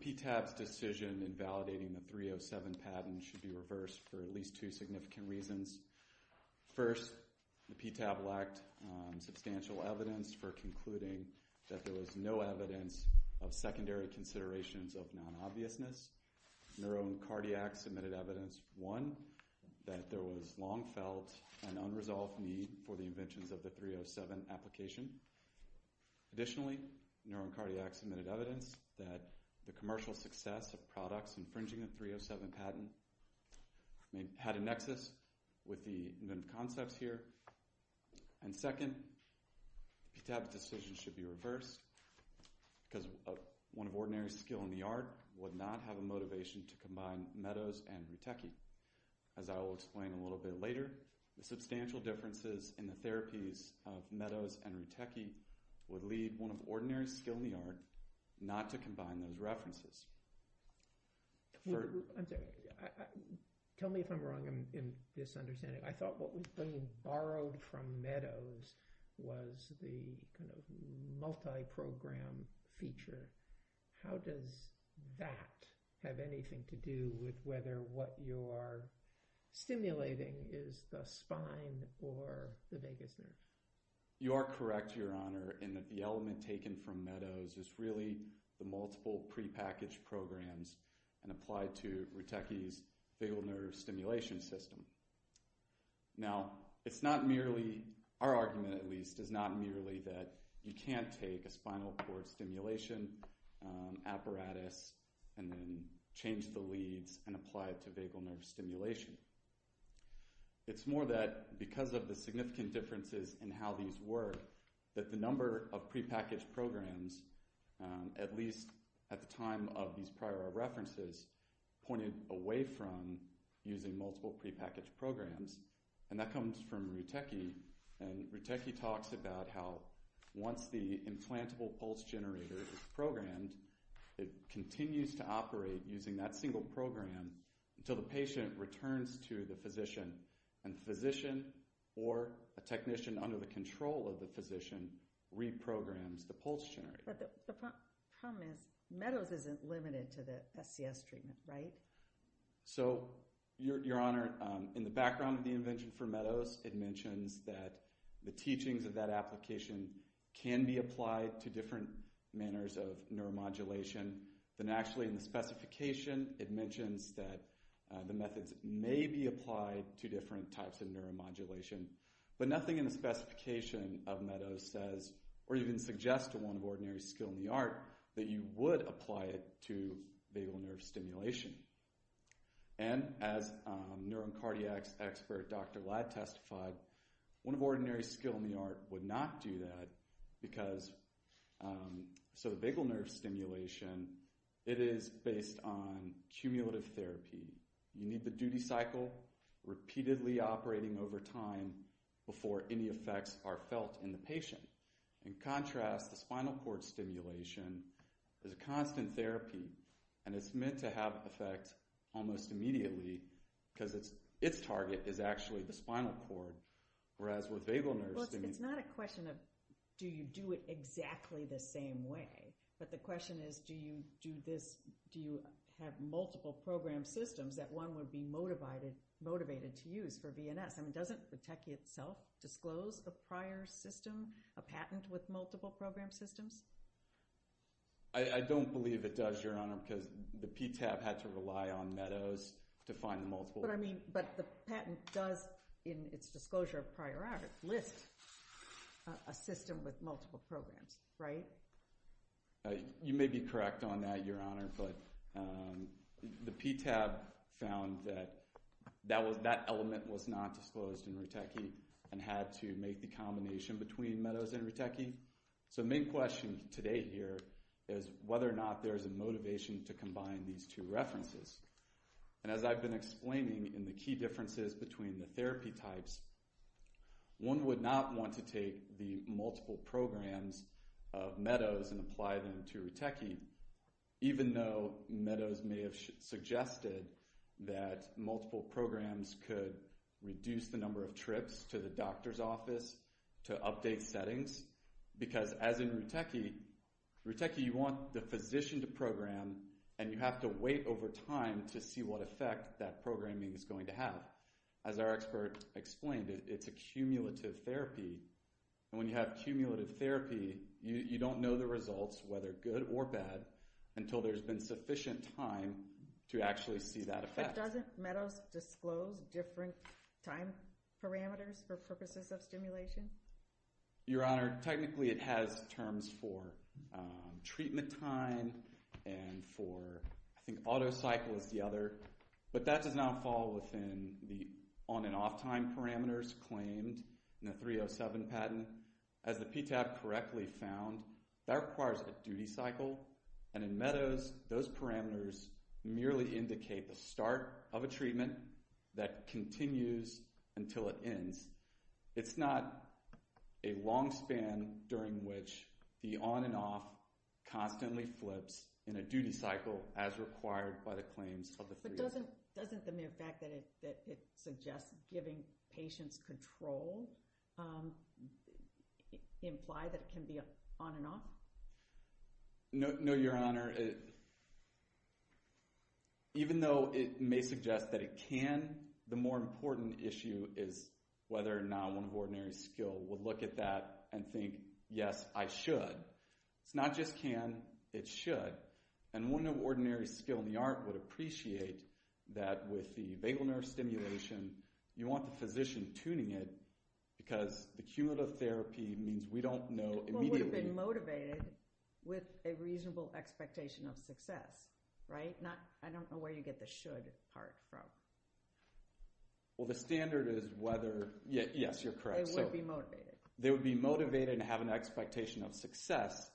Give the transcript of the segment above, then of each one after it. PTAB's decision in validating the 307 patent should be reversed for at least two significant reasons. First, the PTAB lacked substantial evidence for concluding that there was no evidence of secondary considerations of non-obviousness. Neuro and Cardiac submitted evidence, one, that there was long felt an unresolved need for the inventions of the 307 application. Additionally, Neuro and Cardiac submitted evidence that the commercial success of products infringing the 307 patent had a nexus with the concepts here. And second, PTAB's decision should be reversed because one of ordinary skill in the art would not have a motivation to combine Meadows and Rutecki. As I will explain a little bit later, the substantial differences in the therapies of the 307 patent. I'm sorry. Tell me if I'm wrong in this understanding. I thought what we borrowed from Meadows was the kind of multi-program feature. How does that have anything to do with whether what you're stimulating is the spine or the vagus nerve? You are correct, Your Honor, in that the element taken from Meadows is really the multiple prepackaged programs and applied to Rutecki's vagus nerve stimulation system. Now, it's not merely, our argument at least, is not merely that you can't take a spinal cord stimulation apparatus and then change the leads and apply it to vagus nerve stimulation. It's more that because of the significant differences in how these work, that the number of prepackaged programs, at least at the time of these prior references, pointed away from using multiple prepackaged programs, and that comes from Rutecki, and Rutecki talks about how once the implantable pulse generator is programmed, it continues to operate using that single program until the patient returns to the physician, and the physician or a technician under the control of the physician reprograms the pulse generator. But the problem is, Meadows isn't limited to the SCS treatment, right? So, Your Honor, in the background of the invention for Meadows, it mentions that the teachings of that application can be applied to different manners of neuromodulation than actually in the specification. It mentions that the methods may be applied to different types of neuromodulation, but nothing in the specification of Meadows says, or even suggests to one of ordinary skill in the art, that you would apply it to vagal nerve stimulation. And as neurocardiac expert Dr. Ladd testified, one of ordinary skill in the art would not do that because, so the vagal nerve stimulation, it is based on cumulative therapy. You need the duty cycle repeatedly operating over time before any effects are felt in the patient. In contrast, the spinal cord stimulation is a constant therapy, and it's meant to have effect almost immediately because its target is actually the spinal cord, whereas with vagal nerve stimulation... Well, it's not a question of, do you do it exactly the same way, but the question is, do you do this, do you have multiple program systems that one would be motivated to use for VNS? I mean, doesn't the techie itself disclose a prior system, a patent with multiple program systems? I don't believe it does, Your Honor, because the PTAB had to rely on Meadows to find multiple... That's what I mean, but the patent does, in its disclosure of prior art, list a system with multiple programs, right? You may be correct on that, Your Honor, but the PTAB found that that element was not disclosed in Ritechi and had to make the combination between Meadows and Ritechi. So the main question today here is whether or not there is a motivation to combine these two references. And as I've been explaining in the key differences between the therapy types, one would not want to take the multiple programs of Meadows and apply them to Ritechi, even though Meadows may have suggested that multiple programs could reduce the number of trips to the doctor's office to update settings, because as in Ritechi, Ritechi, you want the physician to program and you have to wait over time to see what effect that programming is going to have. As our expert explained, it's a cumulative therapy, and when you have cumulative therapy, you don't know the results, whether good or bad, until there's been sufficient time to actually see that effect. But doesn't Meadows disclose different time parameters for purposes of stimulation? Your Honor, technically it has terms for treatment time and for, I think, auto-cycle is the other, but that does not fall within the on and off time parameters claimed in the 307 patent. As the PTAB correctly found, that requires a duty cycle, and in Meadows, those parameters merely indicate the start of a treatment that continues until it ends. It's not a long span during which the on and off constantly flips in a duty cycle as required by the claims of the 307. But doesn't the mere fact that it suggests giving patients control imply that it can be on and off? No, Your Honor. Your Honor, even though it may suggest that it can, the more important issue is whether or not one of ordinary skill would look at that and think, yes, I should. It's not just can, it should. And one of ordinary skill in the art would appreciate that with the vagal nerve stimulation, you want the physician tuning it, because the cumulative therapy means we don't know immediately... have an expectation of success, right? I don't know where you get the should part from. Well, the standard is whether... Yes, you're correct. They would be motivated. They would be motivated and have an expectation of success.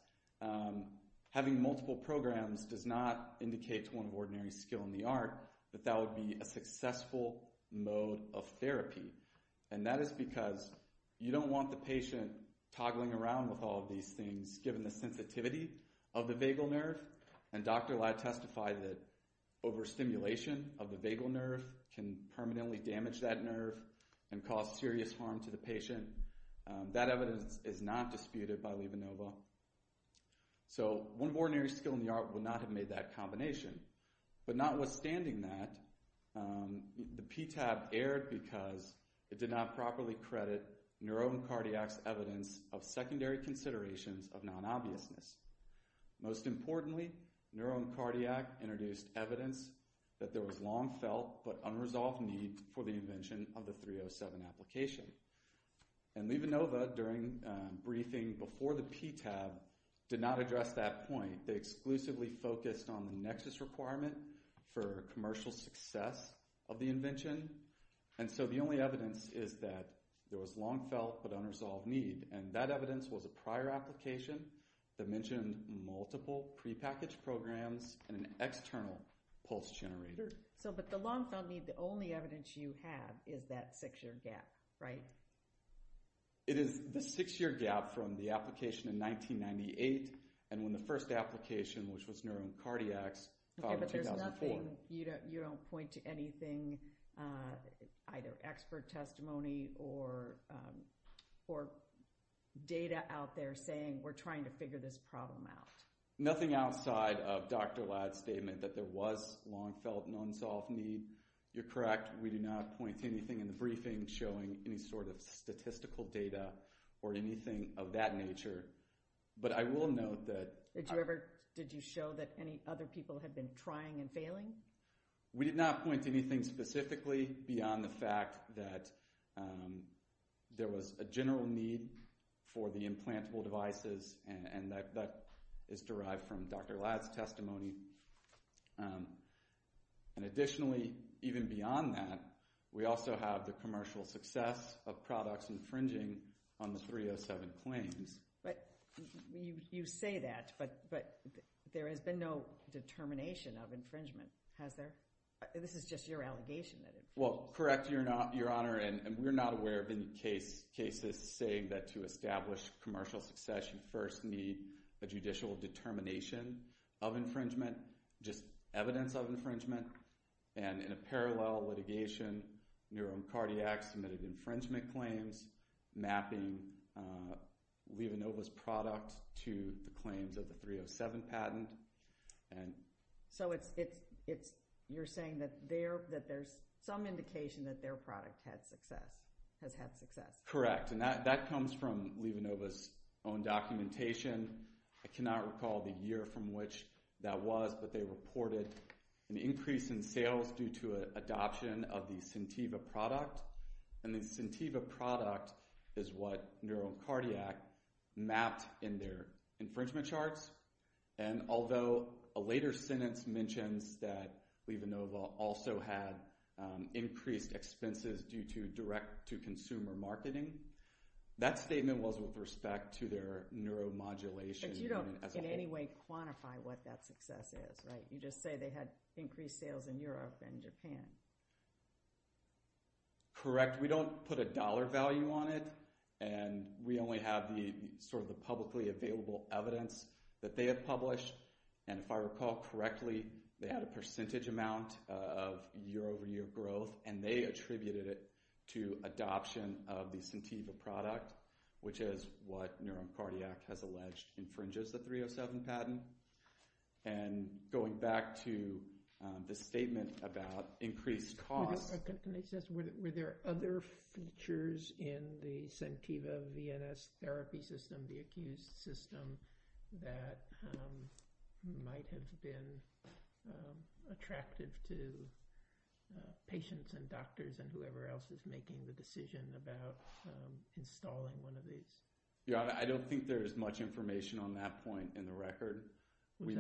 Having multiple programs does not indicate to one of ordinary skill in the art that that would be a successful mode of therapy. And that is because you don't want the patient toggling around with all of these things given the sensitivity of the vagal nerve. And Dr. Lye testified that overstimulation of the vagal nerve can permanently damage that nerve and cause serious harm to the patient. That evidence is not disputed by Levonova. So one of ordinary skill in the art would not have made that combination. But notwithstanding that, the PTAB erred because it did not properly credit neuro-cardiac's evidence of secondary considerations of non-obviousness. Most importantly, neuro-cardiac introduced evidence that there was long felt but unresolved need for the invention of the 307 application. And Levonova, during briefing before the PTAB, did not address that point. They exclusively focused on the nexus requirement for commercial success of the invention. And so the only evidence is that there was long felt but unresolved need. And that evidence was a prior application that mentioned multiple prepackaged programs and an external pulse generator. So but the long felt need, the only evidence you have is that six year gap, right? It is the six year gap from the application in 1998 and when the first application, which was neuro-cardiacs, found in 2004. So you're saying you don't point to anything, either expert testimony or data out there saying we're trying to figure this problem out. Nothing outside of Dr. Ladd's statement that there was long felt and unsolved need. You're correct. We do not point to anything in the briefing showing any sort of statistical data or anything of that nature. But I will note that. Did you ever, did you show that any other people had been trying and failing? We did not point to anything specifically beyond the fact that there was a general need for the implantable devices and that is derived from Dr. Ladd's testimony. And additionally, even beyond that, we also have the commercial success of products infringing on the 307 claims. But, you say that, but there has been no determination of infringement, has there? This is just your allegation that it was. Well, correct, Your Honor, and we're not aware of any cases saying that to establish commercial success, you first need a judicial determination of infringement, just evidence of infringement. And in a parallel litigation, neuro-cardiacs submitted infringement claims, mapping, leaving Nova's product to the claims of the 307 patent. So it's, you're saying that there's some indication that their product had success, has had success? Correct, and that comes from Leva Nova's own documentation. I cannot recall the year from which that was, but they reported an increase in sales due to adoption of the Centiva product. And the Centiva product is what neuro-cardiac mapped in their infringement charts. And although a later sentence mentions that Leva Nova also had increased expenses due to direct-to-consumer marketing, that statement was with respect to their neuromodulation. But you don't, in any way, quantify what that success is, right? You just say they had increased sales in Europe and Japan. Correct, we don't put a dollar value on it, and we only have the, sort of, the publicly available evidence that they have published, and if I recall correctly, they had a percentage amount of year-over-year growth, and they attributed it to adoption of the Centiva product, which is what neuro-cardiac has alleged infringes the 307 patent. And going back to the statement about increased costs... Can I just ask, were there other features in the Centiva VNS therapy system, the accused system, that might have been attractive to patients and doctors and whoever else is making the claims? Your Honor, I don't think there is much information on that point in the record. Would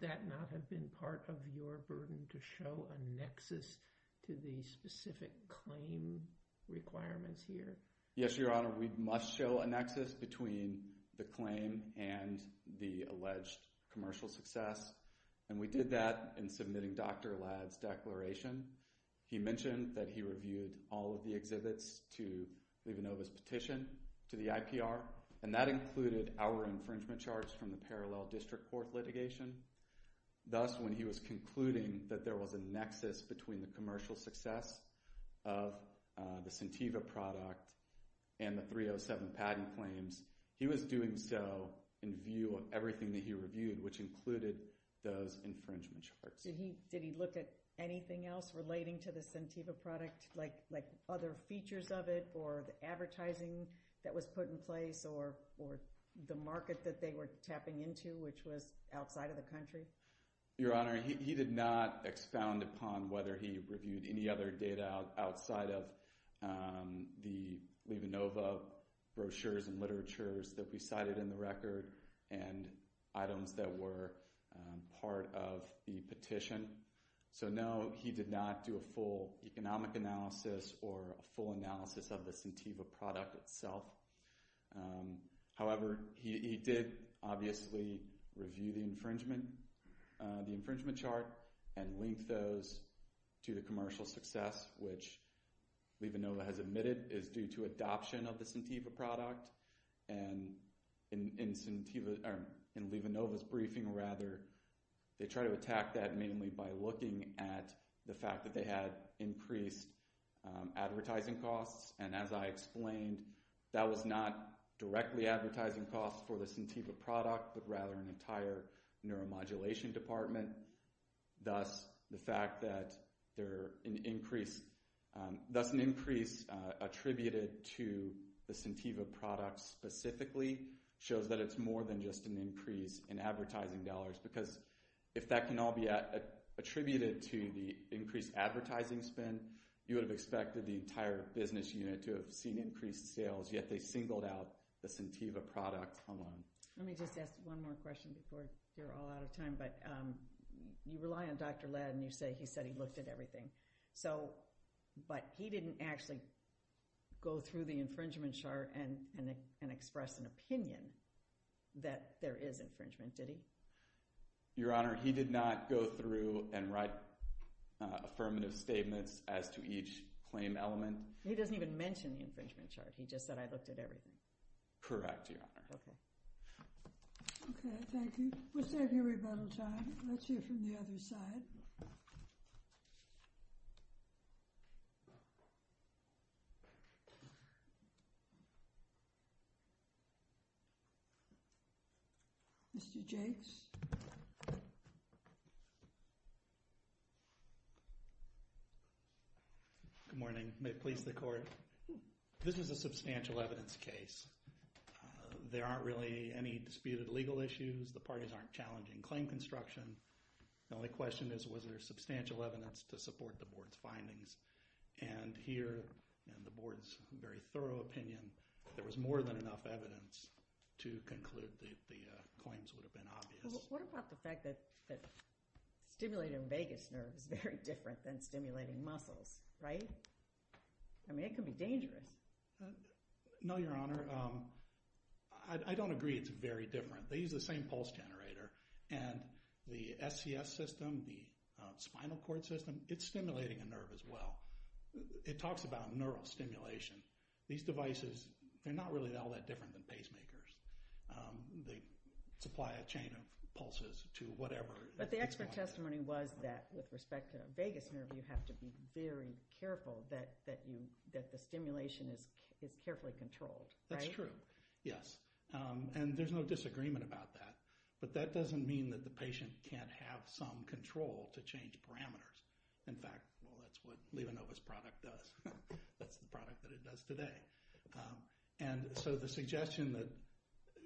that not have been part of your burden to show a nexus to the specific claim requirements here? Yes, Your Honor, we must show a nexus between the claim and the alleged commercial success, and we did that in submitting Dr. Allad's declaration. He mentioned that he reviewed all of the exhibits to Levanova's petition to the IPR, and that included our infringement charts from the parallel district court litigation. Thus, when he was concluding that there was a nexus between the commercial success of the Centiva product and the 307 patent claims, he was doing so in view of everything that he reviewed, which included those infringement charts. Did he look at anything else relating to the Centiva product, like other features of it, or the advertising that was put in place, or the market that they were tapping into, which was outside of the country? Your Honor, he did not expound upon whether he reviewed any other data outside of the Levanova brochures and literatures that we cited in the record, and items that were part of the petition. So, no, he did not do a full economic analysis or a full analysis of the Centiva product itself. However, he did, obviously, review the infringement chart and link those to the commercial success, which Levanova has admitted is due to adoption of the Centiva product, and in Levanova's briefing, rather, they try to attack that mainly by looking at the fact that they had increased advertising costs, and as I explained, that was not directly advertising costs for the Centiva product, but rather an entire neuromodulation department. Thus, the fact that an increase attributed to the Centiva product specifically shows that it's more than just an increase in advertising dollars, because if that can all be attributed to the increased advertising spend, you would have expected the entire business unit to have seen increased sales, yet they singled out the Centiva product alone. Let me just ask one more question before you're all out of time, but you rely on Dr. Ladd, and you say he said he looked at everything, but he didn't actually go through the infringement chart and express an opinion that there is infringement, did he? Your Honor, he did not go through and write affirmative statements as to each claim element. He doesn't even mention the infringement chart. He just said, I looked at everything. Correct, Your Honor. Okay, thank you. We're saving everybody time. Let's hear from the other side. Mr. Jakes. Good morning. May it please the Court. This is a substantial evidence case. There aren't really any disputed legal issues. The parties aren't challenging claim construction. The only question is, was there substantial evidence to support the Board's findings? And here, in the Board's very thorough opinion, there was more than enough evidence to conclude that the claims would have been obvious. What about the fact that stimulating vagus nerve is very different than stimulating muscles, right? I mean, it can be dangerous. No, Your Honor. I don't agree it's very different. They use the same pulse generator. And the SCS system, the spinal cord system, it's stimulating a nerve as well. It talks about neural stimulation. These devices, they're not really all that different than pacemakers. They supply a chain of pulses to whatever. But the expert testimony was that, with respect to vagus nerve, you have to be very careful that the stimulation is carefully controlled, right? That's true, yes. And there's no disagreement about that. But that doesn't mean that the patient can't have some control to change parameters. In fact, that's what Levonova's product does. That's the product that it does today. And so the suggestion that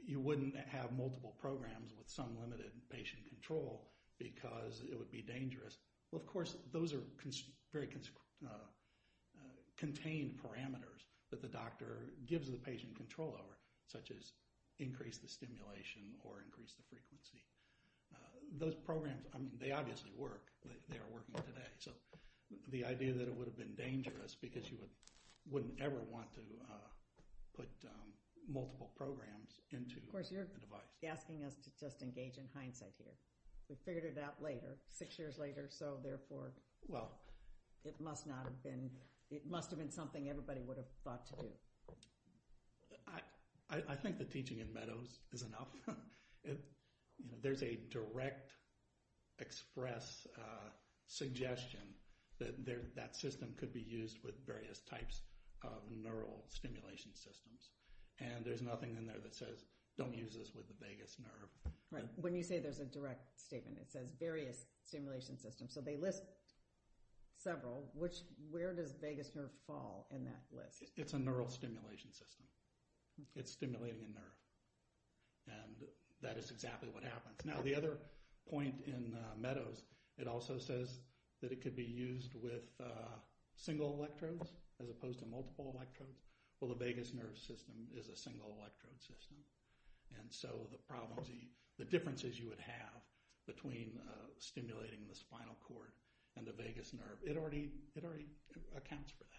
you wouldn't have multiple programs with some limited patient control because it would be dangerous, well, of course, those are very contained parameters that the doctor gives the patient control over, such as increase the stimulation or increase the frequency. Those programs, I mean, they obviously work. They are working today. So the idea that it would have been dangerous because you wouldn't ever want to put multiple programs into a device. Of course, you're asking us to just engage in hindsight here. We figured it out later, six years later, so therefore it must have been something everybody would have thought to do. I think the teaching in Meadows is enough. There's a direct express suggestion that that system could be used with various types of neural stimulation systems. And there's nothing in there that says don't use this with the vagus nerve. When you say there's a direct statement, it says various stimulation systems. So they list several. Where does vagus nerve fall in that list? It's a neural stimulation system. It's stimulating a nerve, and that is exactly what happens. Now the other point in Meadows, it also says that it could be used with single electrodes as opposed to multiple electrodes. Well, the vagus nerve system is a single electrode system, and so the differences you would have between stimulating the spinal cord and the vagus nerve, it already accounts for that.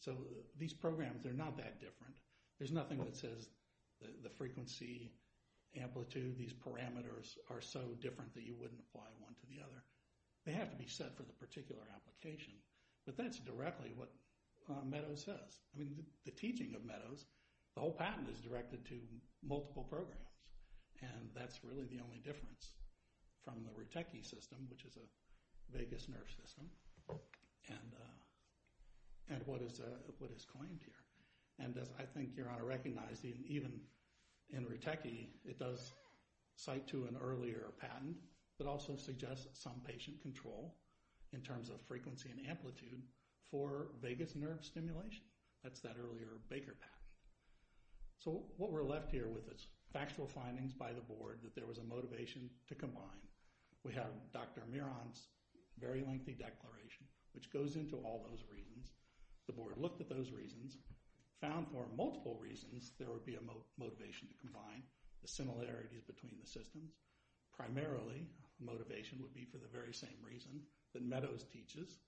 So these programs, they're not that different. There's nothing that says the frequency, amplitude, these parameters are so different that you wouldn't apply one to the other. They have to be set for the particular application, but that's directly what Meadows says. I mean, the teaching of Meadows, the whole patent is directed to multiple programs, and that's really the only difference from the Rutecky system, which is a vagus nerve system, and what is claimed here. And I think Your Honor recognized even in Rutecky, it does cite to an earlier patent that also suggests some patient control in terms of frequency and amplitude for vagus nerve stimulation. That's that earlier Baker patent. So what we're left here with is factual findings by the board that there was a motivation to combine. We have Dr. Miron's very lengthy declaration, which goes into all those reasons. The board looked at those reasons, found for multiple reasons there would be a motivation to combine, the similarities between the systems. Primarily, motivation would be for the very same reason that Meadows teaches,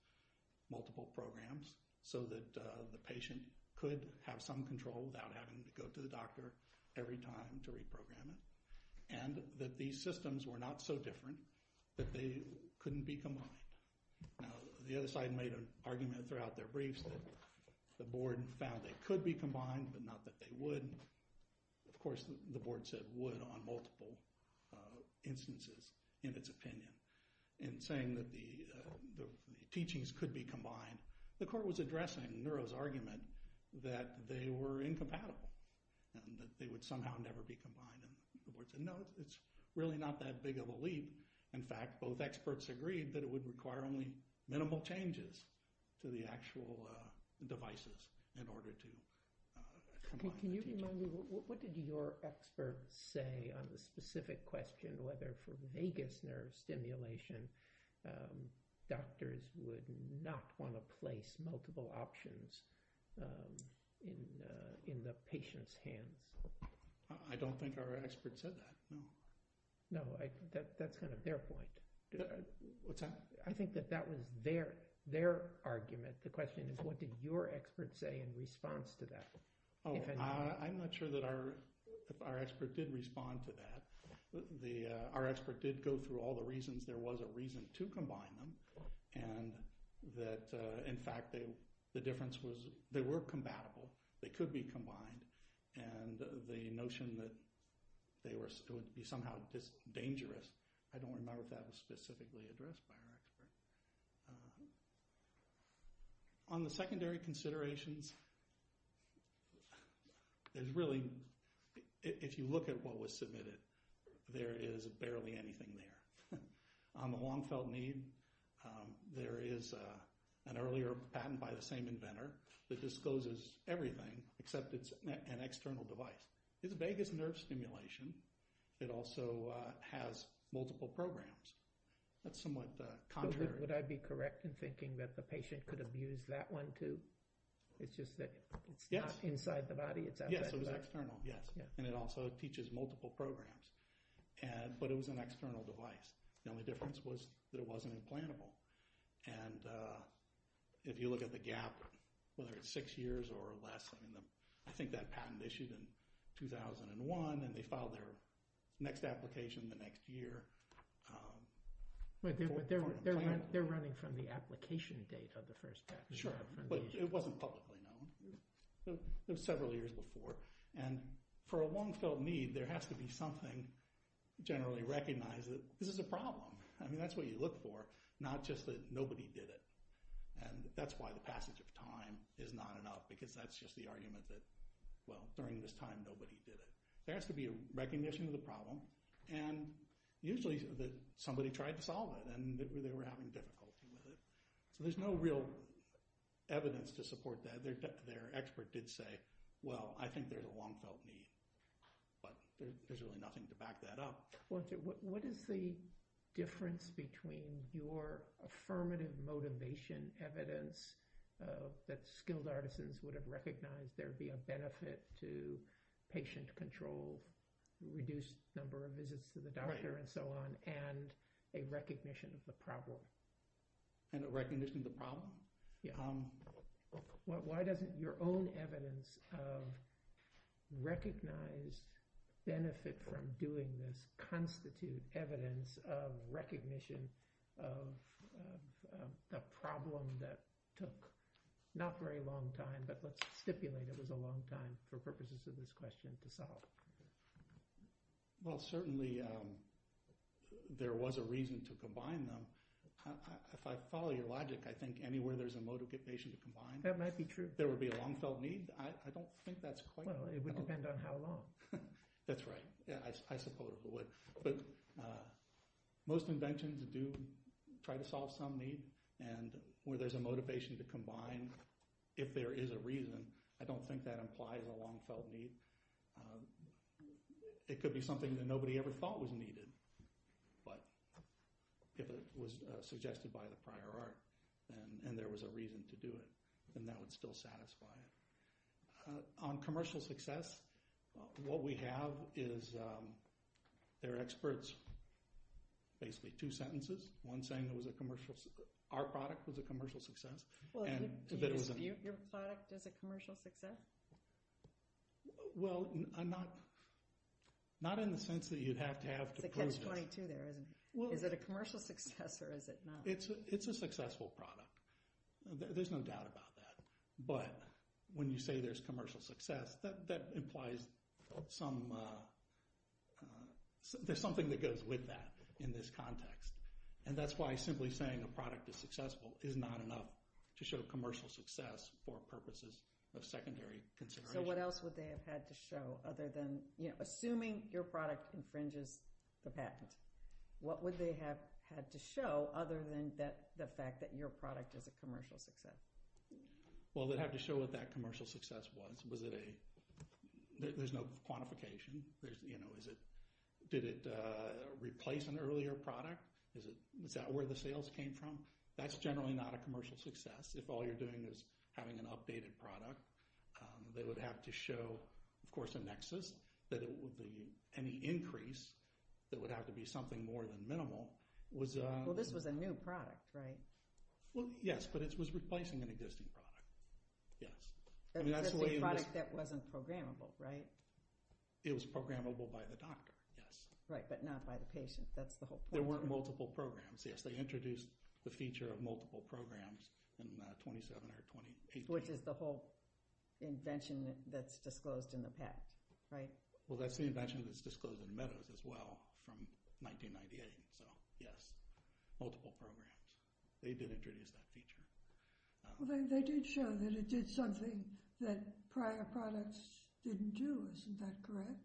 multiple programs, so that the patient could have some control without having to go to the doctor every time to reprogram it, and that these systems were not so different that they couldn't be combined. Now, the other side made an argument throughout their briefs that the board found they could be combined, but not that they would. Of course, the board said would on multiple instances in its opinion. In saying that the teachings could be combined, the court was addressing Neuro's argument that they were incompatible and that they would somehow never be combined. The board said, no, it's really not that big of a leap. In fact, both experts agreed that it would require only minimal changes to the actual devices in order to combine. Can you remind me, what did your expert say on the specific question, whether for vagus nerve stimulation doctors would not want to place multiple options in the patient's hands? I don't think our expert said that, no. No, that's kind of their point. What's that? I think that that was their argument. The question is, what did your expert say in response to that? I'm not sure that our expert did respond to that. Our expert did go through all the reasons there was a reason to combine them, and that, in fact, the difference was they were compatible. They could be combined, and the notion that they would be somehow dangerous, I don't remember if that was specifically addressed by our expert. On the secondary considerations, there's really, if you look at what was submitted, there is barely anything there. On the long-felt need, there is an earlier patent by the same inventor that discloses everything, except it's an external device. It's vagus nerve stimulation. It also has multiple programs. That's somewhat contrary. Would I be correct in thinking that the patient could abuse that one, too? It's just that it's not inside the body, it's outside the body? Yes, it was external, yes, and it also teaches multiple programs, but it was an external device. The only difference was that it wasn't implantable, and if you look at the gap, whether it's six years or less, I think that patent issued in 2001, and they filed their next application the next year. They're running from the application date of the first patent. Sure, but it wasn't publicly known. It was several years before, and for a long-felt need, there has to be something generally recognized that this is a problem. I mean, that's what you look for, not just that nobody did it, and that's why the passage of time is not enough, because that's just the argument that, well, during this time, nobody did it. There has to be a recognition of the problem, and usually somebody tried to solve it, and they were having difficulty with it. So there's no real evidence to support that. Their expert did say, well, I think there's a long-felt need, but there's really nothing to back that up. What is the difference between your affirmative motivation evidence that skilled artisans would have recognized there would be a benefit to patient control, reduced number of visits to the doctor, and so on, and a recognition of the problem? And a recognition of the problem? Why doesn't your own evidence of recognized benefit from doing this constitute evidence of recognition of a problem that took not very long time, but let's stipulate it was a long time for purposes of this question to solve? Well, certainly there was a reason to combine them. If I follow your logic, I think anywhere there's a motivation to combine, there would be a long-felt need. I don't think that's quite right. Well, it would depend on how long. That's right. I suppose it would. But most inventions do try to solve some need, and where there's a motivation to combine, if there is a reason, I don't think that implies a long-felt need. It could be something that nobody ever thought was needed, but it was suggested by the prior art, and there was a reason to do it, and that would still satisfy it. On commercial success, what we have is there are experts, basically two sentences, one saying our product was a commercial success. Your product is a commercial success? Well, not in the sense that you'd have to have to prove this. It's a catch-22 there, isn't it? Is it a commercial success or is it not? It's a successful product. There's no doubt about that. But when you say there's commercial success, that implies there's something that goes with that in this context, and that's why simply saying a product is successful is not enough to show commercial success for purposes of secondary consideration. So what else would they have had to show other than assuming your product infringes the patent? What would they have had to show other than the fact that your product is a commercial success? Well, they'd have to show what that commercial success was. There's no quantification. Did it replace an earlier product? Is that where the sales came from? That's generally not a commercial success. If all you're doing is having an updated product, they would have to show, of course, a nexus, that any increase that would have to be something more than minimal was— Well, this was a new product, right? Well, yes, but it was replacing an existing product, yes. It was a product that wasn't programmable, right? It was programmable by the doctor, yes. Right, but not by the patient. That's the whole point. There weren't multiple programs. Yes, they introduced the feature of multiple programs in 27 or 28 years. Which is the whole invention that's disclosed in the patent, right? Well, that's the invention that's disclosed in Meadows as well from 1998, so yes, multiple programs. They did introduce that feature. Well, they did show that it did something that prior products didn't do. Isn't that correct?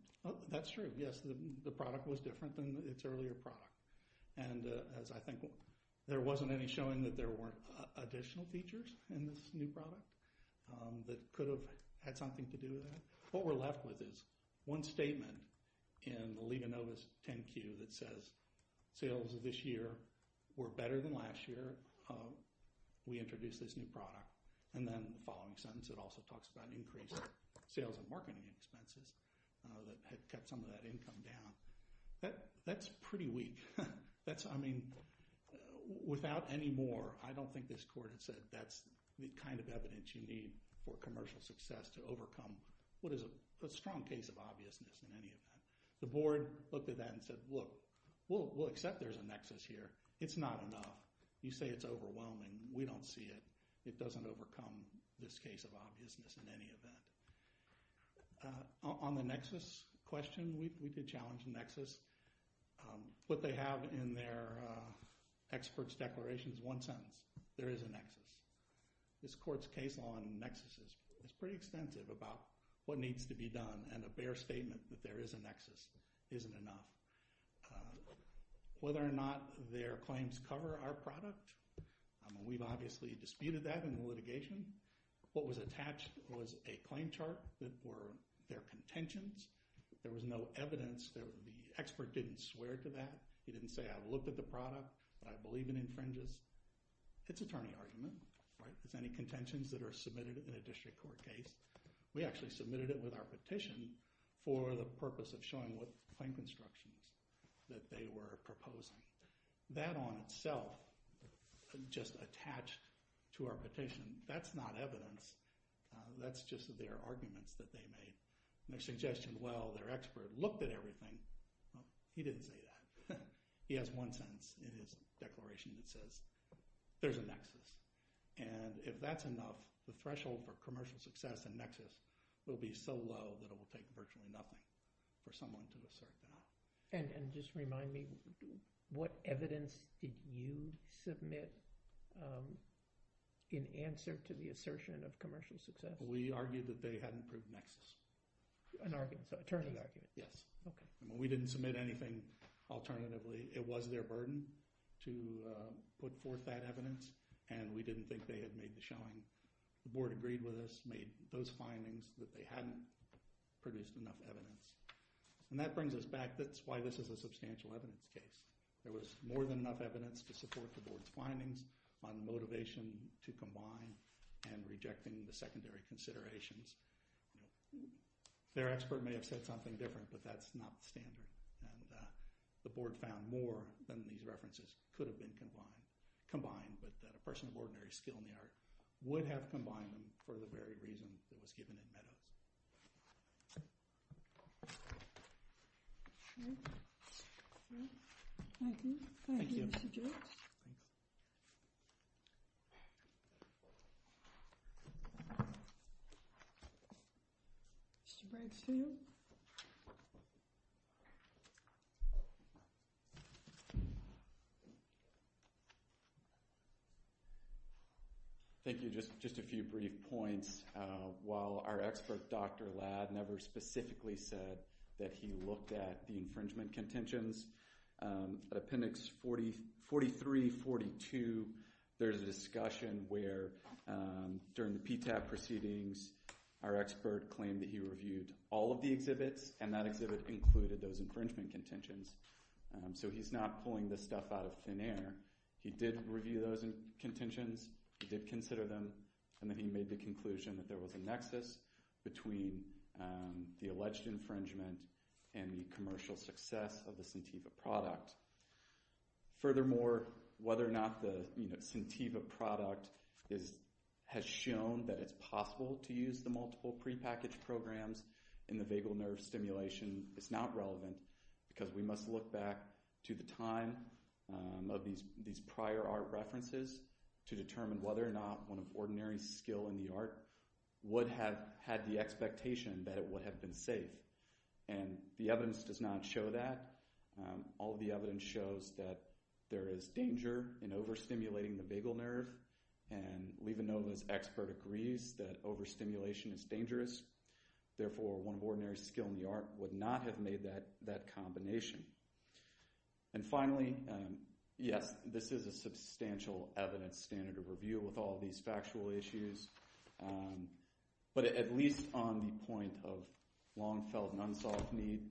That's true, yes. The product was different than its earlier product, and as I think there wasn't any showing that there weren't additional features in this new product that could have had something to do with that. What we're left with is one statement in the Leonovus 10Q that says, Sales of this year were better than last year. We introduced this new product. And then the following sentence, it also talks about increased sales and marketing expenses that had kept some of that income down. That's pretty weak. I mean, without any more, I don't think this court had said that's the kind of evidence you need for commercial success to overcome what is a strong case of obviousness in any event. The board looked at that and said, look, we'll accept there's a nexus here. It's not enough. You say it's overwhelming. We don't see it. It doesn't overcome this case of obviousness in any event. On the nexus question, we did challenge the nexus. What they have in their expert's declaration is one sentence. There is a nexus. This court's case on nexuses is pretty extensive about what needs to be done and a bare statement that there is a nexus isn't enough. Whether or not their claims cover our product, we've obviously disputed that in the litigation. What was attached was a claim chart that were their contentions. There was no evidence. The expert didn't swear to that. He didn't say, I looked at the product. I believe it infringes. It's attorney argument. It's any contentions that are submitted in a district court case. We actually submitted it with our petition for the purpose of showing what claim constructions that they were proposing. That on itself just attached to our petition. That's not evidence. That's just their arguments that they made. Their suggestion, well, their expert looked at everything. He didn't say that. If that's enough, the threshold for commercial success and nexus will be so low that it will take virtually nothing for someone to assert that. Just remind me, what evidence did you submit in answer to the assertion of commercial success? We argued that they hadn't proved nexus. An argument. Attorney argument. Yes. We didn't submit anything alternatively. It was their burden to put forth that evidence, and we didn't think they had made the showing. The board agreed with us, made those findings that they hadn't produced enough evidence. And that brings us back. That's why this is a substantial evidence case. There was more than enough evidence to support the board's findings on motivation to combine and rejecting the secondary considerations. Their expert may have said something different, but that's not the standard. The board found more than these references could have been combined. But a person of ordinary skill in the art would have combined them for the very reason that was given in Meadows. Thank you. Thank you. Mr. Branstad? Thank you. Just a few brief points. While our expert, Dr. Ladd, never specifically said that he looked at the infringement contentions, Appendix 43-42, there's a discussion where, during the PTAP proceedings, our expert claimed that he reviewed all of the exhibits, and that exhibit included those infringement contentions. So he's not pulling this stuff out of thin air. He did review those contentions. He did consider them. And then he made the conclusion that there was a nexus between the alleged infringement and the commercial success of the Centiva product. Furthermore, whether or not the Centiva product has shown that it's possible to use the multiple prepackaged programs in the vagal nerve stimulation is not relevant, because we must look back to the time of these prior art references to determine whether or not one of ordinary skill in the art would have had the expectation that it would have been safe. And the evidence does not show that. All of the evidence shows that there is danger in overstimulating the vagal nerve, and Levonova's expert agrees that overstimulation is dangerous. Therefore, one of ordinary skill in the art would not have made that combination. And finally, yes, this is a substantial evidence standard of review with all these factual issues, but at least on the point of long-felt and unsolved need.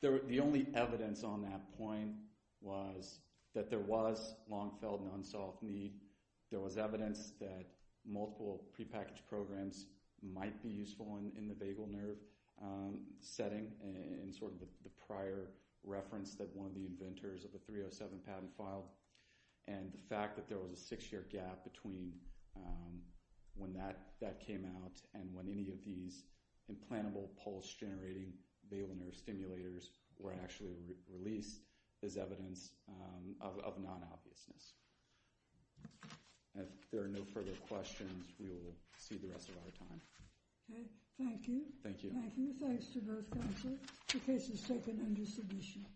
The only evidence on that point was that there was long-felt and unsolved need. There was evidence that multiple prepackaged programs might be useful in the vagal nerve setting in sort of the prior reference that one of the inventors of the 307 patent filed, and the fact that there was a six-year gap between when that came out and when any of these implantable pulse-generating vagal nerve stimulators were actually released is evidence of non-obviousness. If there are no further questions, we will see the rest of our time. Thank you. Thank you. Thanks to both counsels. The case is taken under submission. Okay. Thank you.